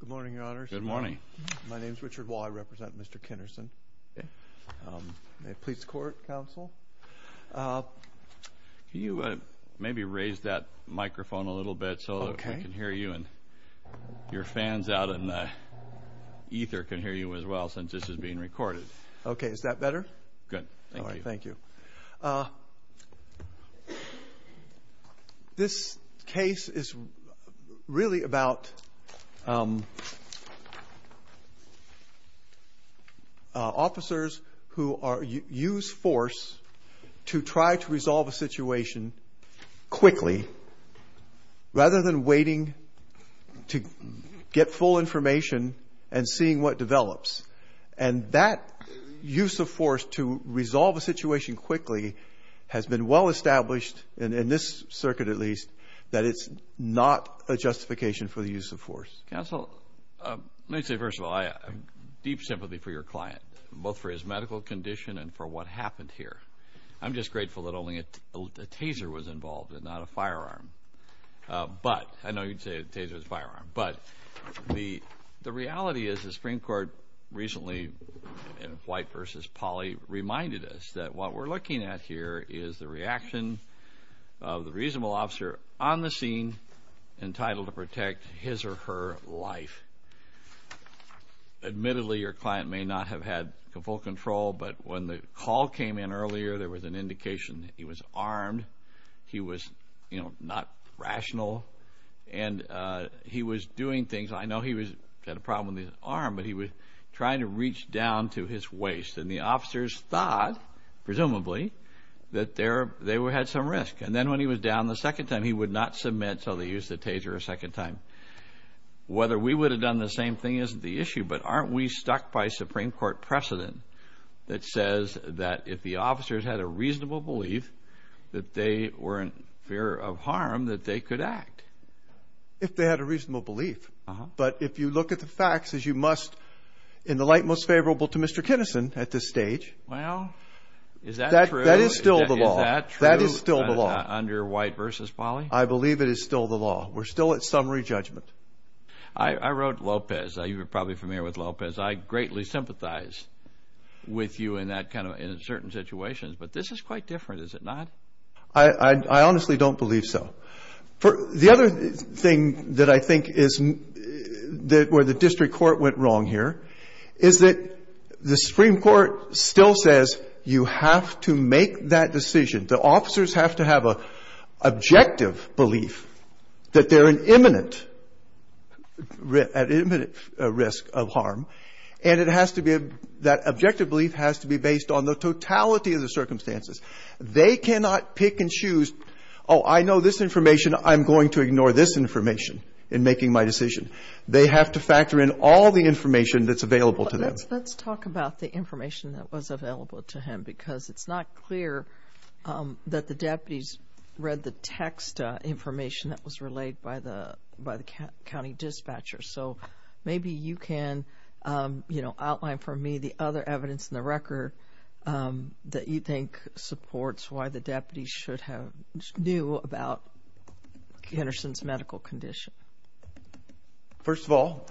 Good morning, Your Honors. Good morning. My name is Richard Wall. I represent Mr. Kinerson. May it please the Court, Counsel. Can you maybe raise that microphone a little bit so we can hear you and your fans out in the ether can hear you as well since this is being recorded. Okay, is that better? Good. Thank you. Thank you. This case is really about officers who use force to try to resolve a situation quickly rather than waiting to get full information and seeing what quickly has been well-established in this circuit at least that it's not a justification for the use of force. Counsel, let me say first of all, I have deep sympathy for your client, both for his medical condition and for what happened here. I'm just grateful that only a taser was involved and not a firearm. But, I know you'd say a taser is a firearm, but the reality is the Supreme Court, as Polly reminded us, that what we're looking at here is the reaction of the reasonable officer on the scene entitled to protect his or her life. Admittedly, your client may not have had full control, but when the call came in earlier, there was an indication that he was armed, he was, you know, not rational, and he was doing things. I know he had a problem with his arm, but he was trying to reach down to his waist, and the officers thought, presumably, that they had some risk. And then when he was down the second time, he would not submit until they used the taser a second time. Whether we would have done the same thing isn't the issue, but aren't we stuck by Supreme Court precedent that says that if the officers had a reasonable belief that they were in fear of harm, that they could act? If they had a reasonable belief, but if you look at the facts, as you must, in the light most favorable to Mr. Kinison at this stage, well, is that true? That is still the law. That is still the law. Under White versus Polly? I believe it is still the law. We're still at summary judgment. I wrote Lopez. You're probably familiar with Lopez. I greatly sympathize with you in that kind of, in certain situations, but this is quite different, is it not? I district court went wrong here, is that the Supreme Court still says you have to make that decision. The officers have to have an objective belief that they're in imminent, at imminent risk of harm, and it has to be, that objective belief has to be based on the totality of the circumstances. They cannot pick and choose, oh, I know this information. I'm going to ignore this information in this case. They have to factor in all the information that's available to them. Let's talk about the information that was available to him, because it's not clear that the deputies read the text information that was relayed by the county dispatcher. So maybe you can, you know, outline for me the other evidence in the record that you think supports why the deputies should have knew about Henderson's medical condition. First of all,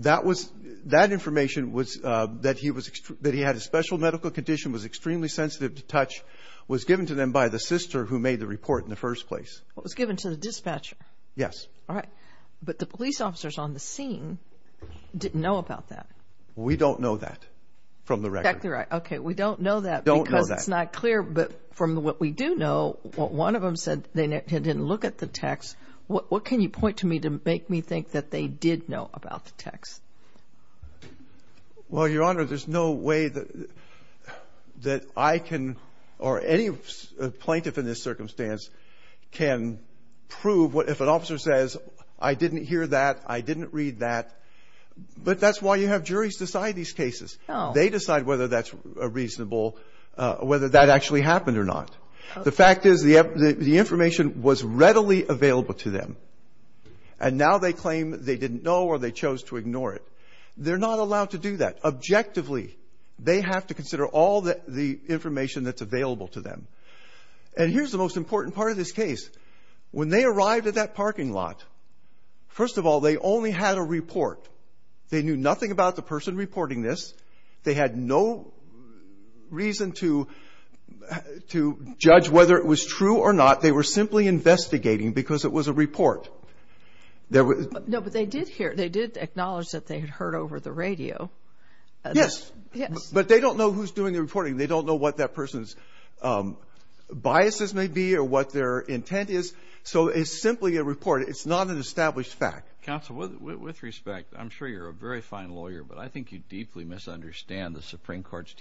that was, that information was, that he was, that he had a special medical condition, was extremely sensitive to touch, was given to them by the sister who made the report in the first place. It was given to the dispatcher. Yes. All right, but the police officers on the scene didn't know about that. We don't know that from the record. Okay, we don't know that because it's not clear, but from what we do know, one of them said they didn't look at the text. What can you point to me to make me think that they did know about the text? Well, Your Honor, there's no way that I can, or any plaintiff in this circumstance, can prove what, if an officer says, I didn't hear that, I didn't read that, but that's why you have juries decide these cases. They decide whether that's a reasonable, whether that actually happened or not. The fact is, the information was readily available to them, and now they claim they didn't know or they chose to ignore it. They're not allowed to do that. Objectively, they have to consider all the information that's available to them. And here's the most important part of this case. When they arrived at that parking lot, first of all, they only had a report. They knew nothing about the person reporting this. They had no reason to judge whether it was true or not. They were simply investigating because it was a report. No, but they did hear, they did acknowledge that they had heard over the radio. Yes, but they don't know who's doing the reporting. They don't know what that person's biases may be or what their intent is. So it's simply a report. It's not an established fact. Counsel, with respect, I'm sure you're a very fine lawyer, but I think you deeply misunderstand the Supreme Court's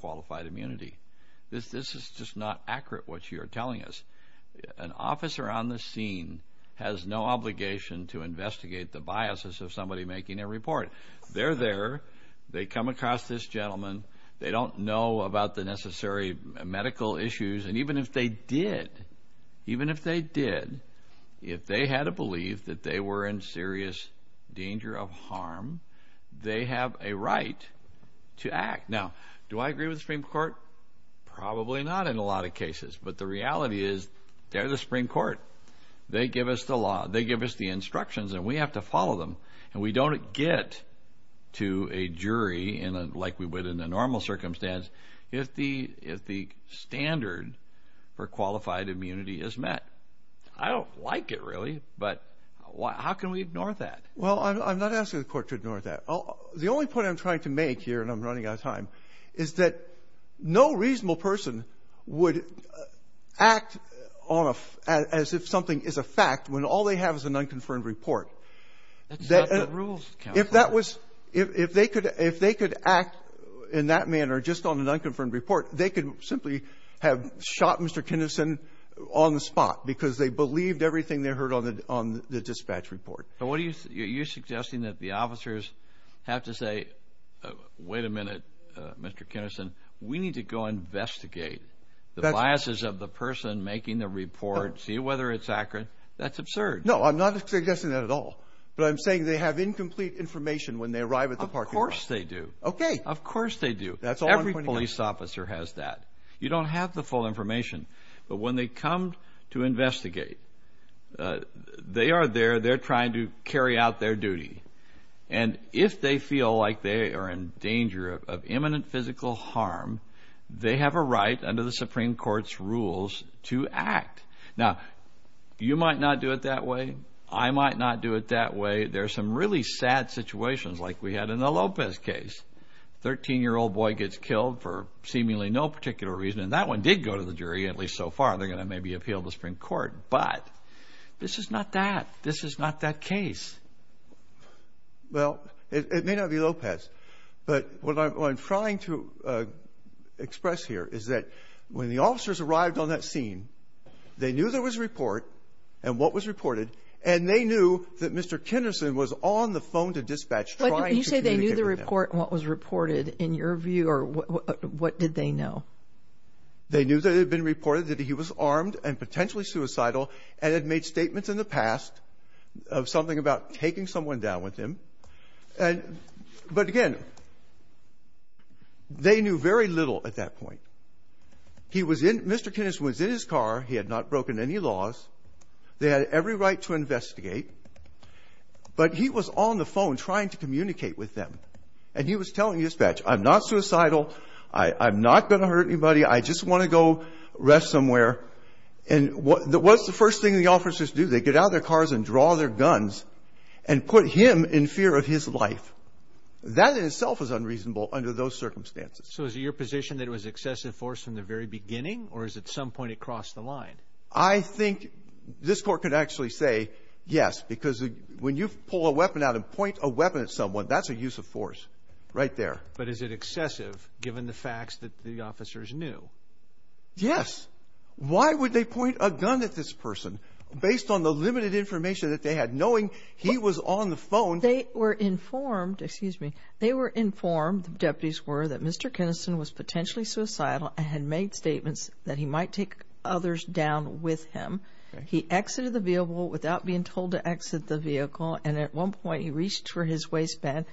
qualified immunity. This is just not accurate what you're telling us. An officer on the scene has no obligation to investigate the biases of somebody making a report. They're there. They come across this gentleman. They don't know about the necessary medical issues. And even if they did, even if they did, if they had to believe that they were in serious danger of harm, they have a Supreme Court? Probably not in a lot of cases, but the reality is they're the Supreme Court. They give us the law. They give us the instructions, and we have to follow them. And we don't get to a jury, like we would in a normal circumstance, if the standard for qualified immunity is met. I don't like it, really, but how can we ignore that? Well, I'm not asking the court to ignore that. The only point I'm trying to make here, and I'm running out of time, is that no reasonable person would act on a — as if something is a fact when all they have is an unconfirmed report. That's not the rules, counsel. If that was — if they could — if they could act in that manner, just on an unconfirmed report, they could simply have shot Mr. Kinnison on the spot because they believed everything they heard on the — on the dispatch report. But what are you — you're suggesting that the officers have to say, wait a minute, Mr. Kinnison, we need to go investigate the biases of the person making the report, see whether it's accurate. That's absurd. No, I'm not suggesting that at all. But I'm saying they have incomplete information when they arrive at the parking lot. Of course they do. Okay. Of course they do. That's all I'm pointing out. Every police officer has that. You don't have the full information. But when they come to investigate, they are there. They're trying to carry out their duty. And if they feel like they are in danger of imminent physical harm, they have a right under the Supreme Court's rules to act. Now, you might not do it that way. I might not do it that way. There are some really sad situations like we had in the Lopez case. Thirteen-year-old boy gets killed for seemingly no particular reason. And that one did go to the jury, at least so far. They're going to maybe appeal to the Supreme Court. But this is not that. Well, it may not be Lopez. But what I'm trying to express here is that when the officers arrived on that scene, they knew there was a report and what was reported. And they knew that Mr. Kinderson was on the phone to dispatch trying to communicate with them. You say they knew the report and what was reported. In your view, what did they know? They knew that it had been reported that he was armed and potentially suicidal and had made statements in the past of something about taking someone down with him. And but, again, they knew very little at that point. He was in Mr. Kinderson was in his car. He had not broken any laws. They had every right to investigate. But he was on the phone trying to communicate with them. And he was telling dispatch, I'm not suicidal. I'm not going to hurt anybody. I just want to go rest somewhere. And what was the first thing the officers do? They get out of their cars and draw their guns and put him in fear of his life. That in itself is unreasonable under those circumstances. So is it your position that it was excessive force from the very beginning or is at some point it crossed the line? I think this court could actually say yes, because when you pull a weapon out and point a weapon at someone, that's a use of force right there. But is it excessive given the facts that the officers knew? Yes. Why would they point a gun at this person based on the limited information that they had knowing he was on the phone? They were informed, excuse me, they were informed, the deputies were, that Mr. Kinderson was potentially suicidal and had made statements that he might take others down with him. He exited the vehicle without being told to exit the vehicle. And at one point he reached for his waistband.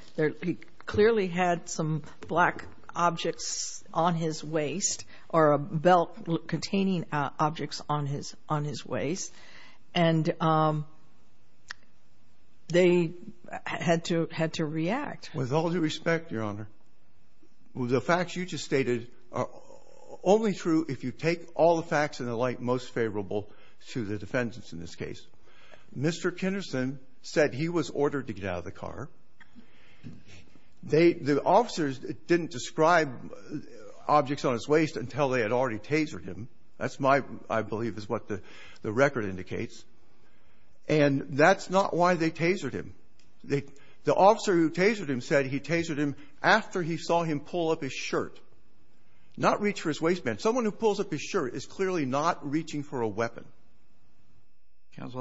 He clearly had some black objects on his waist or a belt containing objects on his waist. And they had to react. With all due respect, Your Honor, the facts you just stated are only true if you take all the facts in the light most favorable to the defendants in this case. Mr. Kinderson said he was ordered to get out of the car. The officers didn't describe objects on his waist until they had already tasered him. That's my, I believe, is what the record indicates. And that's not why they tasered him. The officer who tasered him said he tasered him after he saw him pull up his shirt. Not reach for his waistband. Counsel,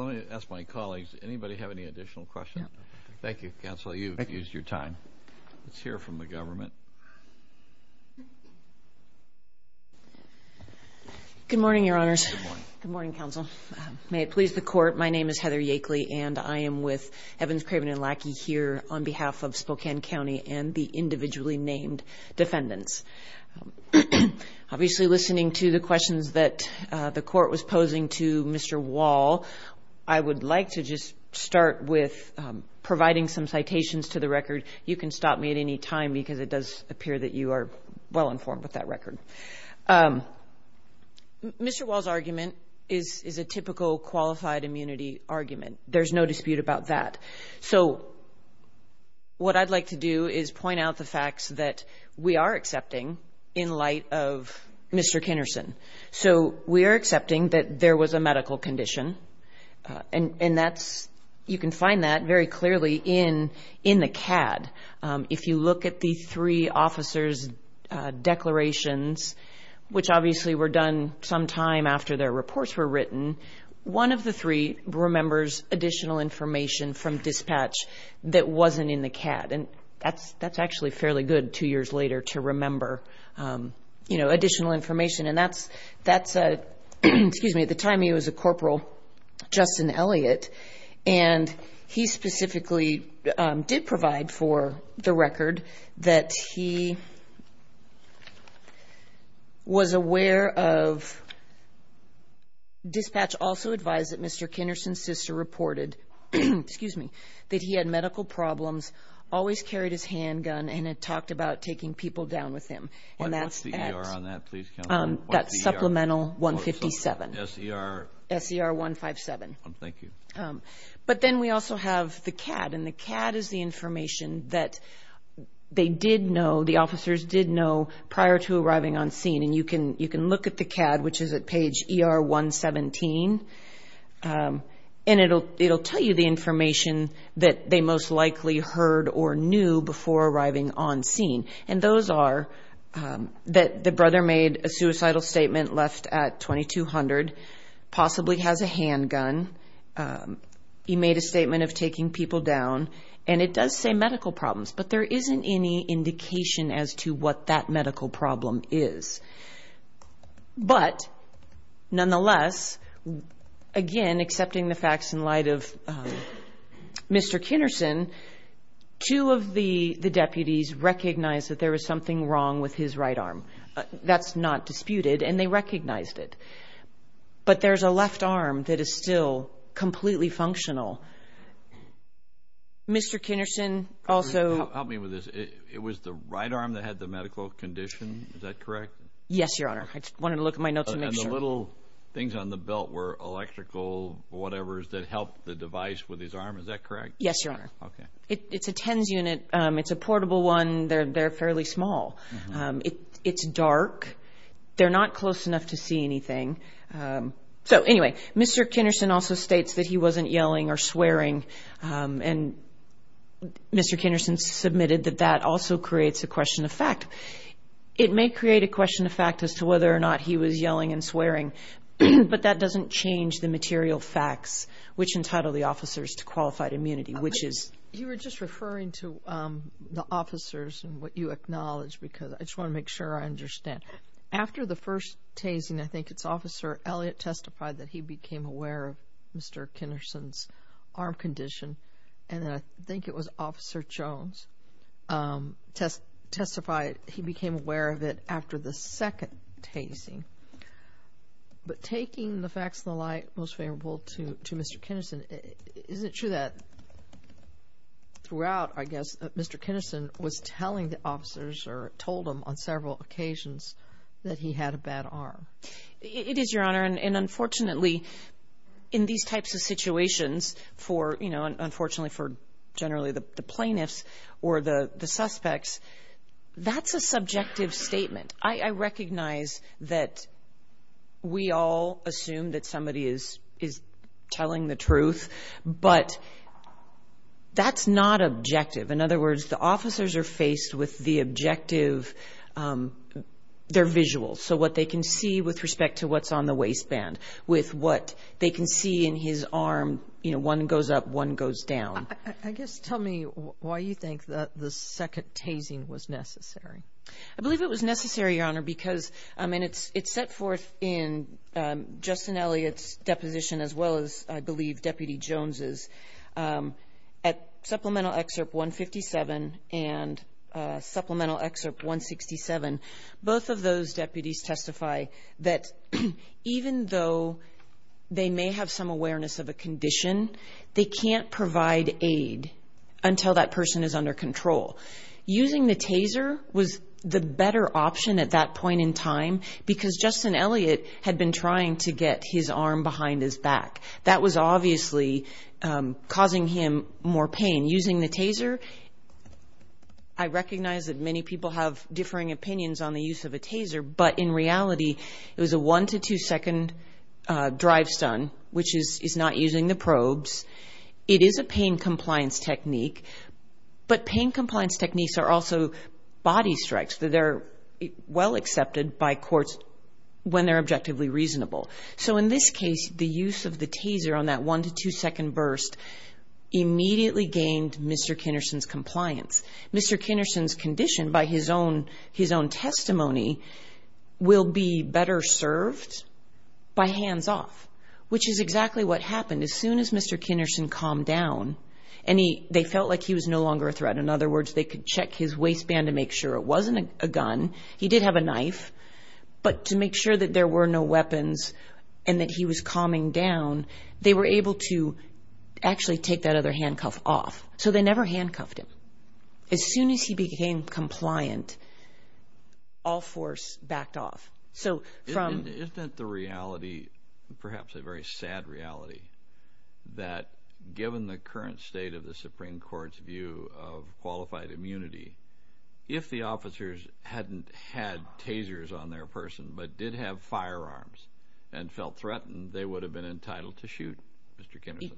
let me ask my colleagues, anybody have any additional questions? Thank you, Counsel, you've used your time. Let's hear from the government. Good morning, Your Honors. Good morning, Counsel. May it please the court, my name is Heather Yakely and I am with Evans, Craven, and Lackey here on behalf of Spokane County and the individually named defendants. Obviously, listening to the questions that the court was posing to Mr. Wall, I would like to just start with providing some citations to the record. You can stop me at any time, because it does appear that you are well informed with that record. Mr. Wall's argument is a typical qualified immunity argument. There's no dispute about that. So, what I'd like to do is point out the facts that we are accepting, in light of Mr. Kinnerson. So, we are accepting that there was a medical condition, and that's, you can find that very clearly in the CAD. If you look at the three officers' declarations, one of the three remembers additional information from dispatch that wasn't in the CAD, and that's actually fairly good two years later to remember additional information, and that's, excuse me, at the time he was a corporal, Justin Elliott, and he specifically did provide for the record that he was aware of, dispatch also advised that Mr. Kinnerson's sister reported, excuse me, that he had medical problems, always carried his handgun, and had talked about taking people down with him, and that's at- What's the ER on that, please, counsel? That's supplemental 157. SER- SER 157. Thank you. But then we also have the CAD, and the CAD is the information that they did know, the officers did know prior to arriving on scene, and you can look at the CAD, which is at page ER 117, and it'll tell you the information that they most likely heard or knew before arriving on scene, and those are that the brother made a suicidal statement left at 2200, possibly has a handgun, he made a statement of taking people down, and it does say medical problems, but there isn't any indication as to what that medical problem is. But nonetheless, again, accepting the facts in light of Mr. Kinnerson, two of the deputies recognized that there was something wrong with his right arm, that's not disputed, and they recognized it, but there's a left arm that is still completely functional. Mr. Kinnerson also- Help me with this. It was the right arm that had the medical condition, is that correct? Yes, your honor. I just wanted to look at my notes to make sure. And the little things on the belt were electrical whatevers that helped the device with his arm, is that correct? Yes, your honor. Okay. It's a TENS unit. It's a portable one. They're fairly small. It's dark. They're not close enough to see anything. So anyway, Mr. Kinnerson also states that he wasn't yelling or swearing, and Mr. Kinnerson submitted that that also creates a question of fact. It may create a question of fact as to whether or not he was yelling and swearing, but that doesn't change the material facts which entitle the officers to qualified immunity, which is- You were just referring to the officers and what you acknowledge because I just want to make sure I understand. After the first tasing, I think it's Officer Elliott testified that he had a bad arm condition, and then I think it was Officer Jones testified he became aware of it after the second tasing. But taking the facts and the lie most favorable to Mr. Kinnerson, is it true that throughout, I guess, Mr. Kinnerson was telling the officers or told them on several occasions that he had a bad arm? It is, Your Honor, and unfortunately, in these types of situations, unfortunately for generally the plaintiffs or the suspects, that's a subjective statement. I recognize that we all assume that somebody is telling the truth, but that's not objective. In other words, the officers are faced with the objective, their visuals, so what they can see with respect to what's on the waistband, with what they can see in his arm, one goes up, one goes down. I guess, tell me why you think that the second tasing was necessary. I believe it was necessary, Your Honor, because it's set forth in Justin Elliott's deposition as well as, I believe, Deputy Jones's at Supplemental Excerpt 157 and Supplemental Excerpt 167. Both of those deputies testify that even though they may have some awareness of a condition, they can't provide aid until that person is under control. Using the taser was the better option at that point in time because Justin Elliott had been trying to get his arm behind his back. That was obviously causing him more pain. Using the taser, I recognize that many people have differing opinions on the use of a taser, but in reality, it was a one to two second drive stun, which is not using the probes. It is a pain compliance technique, but pain compliance techniques are also body strikes. They're well accepted by courts when they're objectively reasonable. In this case, the use of the taser on that one to two second burst immediately gained Mr. Kinnerson's compliance. Mr. Kinnerson's condition, by his own testimony, will be better served by hands off, which is exactly what happened. As soon as Mr. Kinnerson calmed down, they felt like he was no longer a threat. In other words, they could check his waistband to make sure it wasn't a gun. He did have a knife, but to make sure that there were no weapons and that he was calming down, they were able to actually take that other handcuff off. So they never handcuffed him. As soon as he became compliant, all force backed off. Isn't that the reality, perhaps a very sad reality, that given the current state of the Supreme Court's view of qualified immunity, if the officers hadn't had tasers on their person but did have firearms and felt threatened, they would have been entitled to shoot Mr. Kinnerson?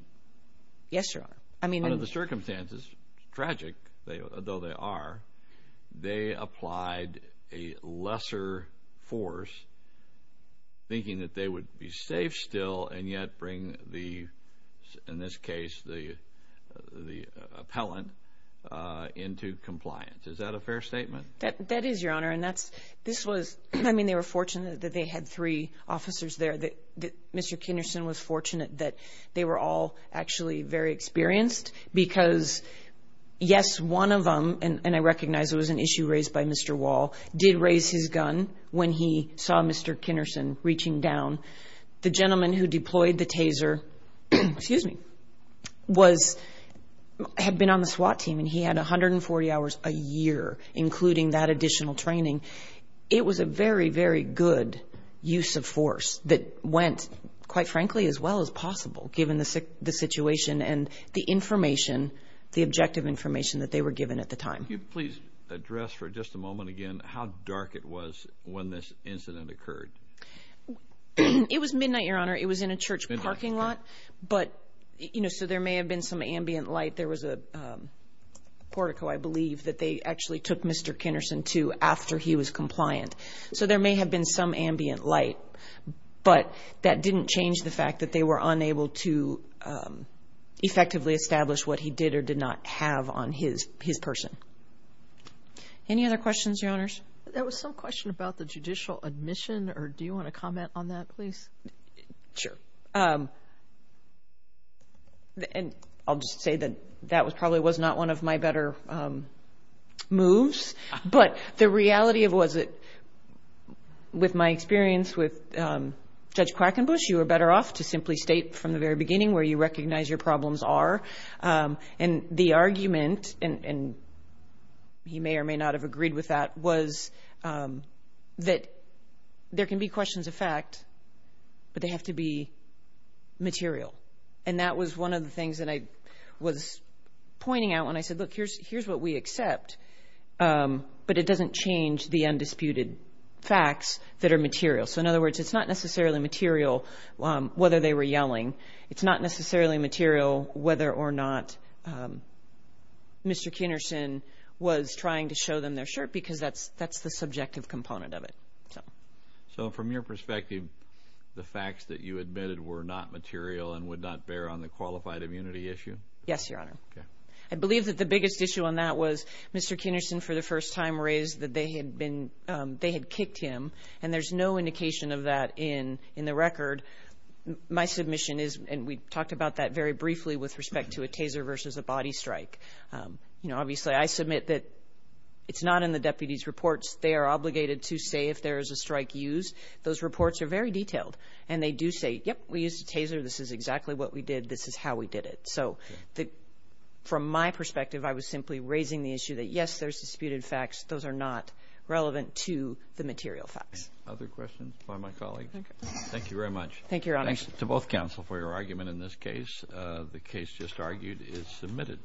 Yes, Your Honor. Under the circumstances, tragic though they are, they applied a lesser force, thinking that they would be safe still and yet bring, in this case, the appellant into compliance. Is that a fair statement? That is, Your Honor. They were fortunate that they had three officers there. Mr. Kinnerson was fortunate that they were all actually very experienced because, yes, one of them, and I recognize it was an issue raised by Mr. Wall, did raise his gun when he saw Mr. Kinnerson reaching down. The gentleman who deployed the taser had been on the SWAT team and he had 140 hours a year, including that additional training. It was a very, very good use of force that went, quite frankly, as well as possible given the situation and the information, the objective information that they were given at the time. Can you please address for just a moment again how dark it was when this incident occurred? It was midnight, Your Honor. It was in a church parking lot, but, you know, so there may have been some ambient light. There was a portico, I believe, that they actually took Mr. Kinnerson to after he was compliant. So there may have been some ambient light, but that didn't change the fact that they were unable to effectively establish what he did or did not have on his person. Any other questions, Your Honors? There was some question about the judicial admission. Do you want to comment on that, please? Sure. And I'll just say that that probably was not one of my better moves, but the reality of it was that, with my experience with Judge Quackenbush, you were better off to simply state from the very beginning where you recognize your problems are. And the argument, and he may or may not have agreed with that, was that there can be questions of fact, but they have to be material. And that was one of the things that I was pointing out when I said, look, here's what we accept, but it doesn't change the undisputed facts that are material. So, in other words, it's not necessarily material whether they were yelling. It's not necessarily material whether or not Mr. Kinnerson was trying to show them their shirt because that's the subjective component of it. So, from your perspective, the facts that you admitted were not material and would not bear on the qualified immunity issue? Yes, Your Honor. I believe that the biggest issue on that was Mr. Kinnerson, for the first time, raised that they had kicked him, and there's no indication of that in the record. My submission is, and we talked about that very briefly with respect to a taser versus a body strike. Obviously, I submit that it's not in the deputies' reports. They are obligated to say if there is a strike used. Those reports are very detailed, and they do say, yep, we used a taser. This is exactly what we did. This is how we did it. So, from my perspective, I was simply raising the issue that, yes, there's disputed facts. Those are not relevant to the material facts. Other questions by my colleague? Thank you very much. Thank you, Your Honor. Thanks to both counsel for your argument in this case. The case just argued is submitted.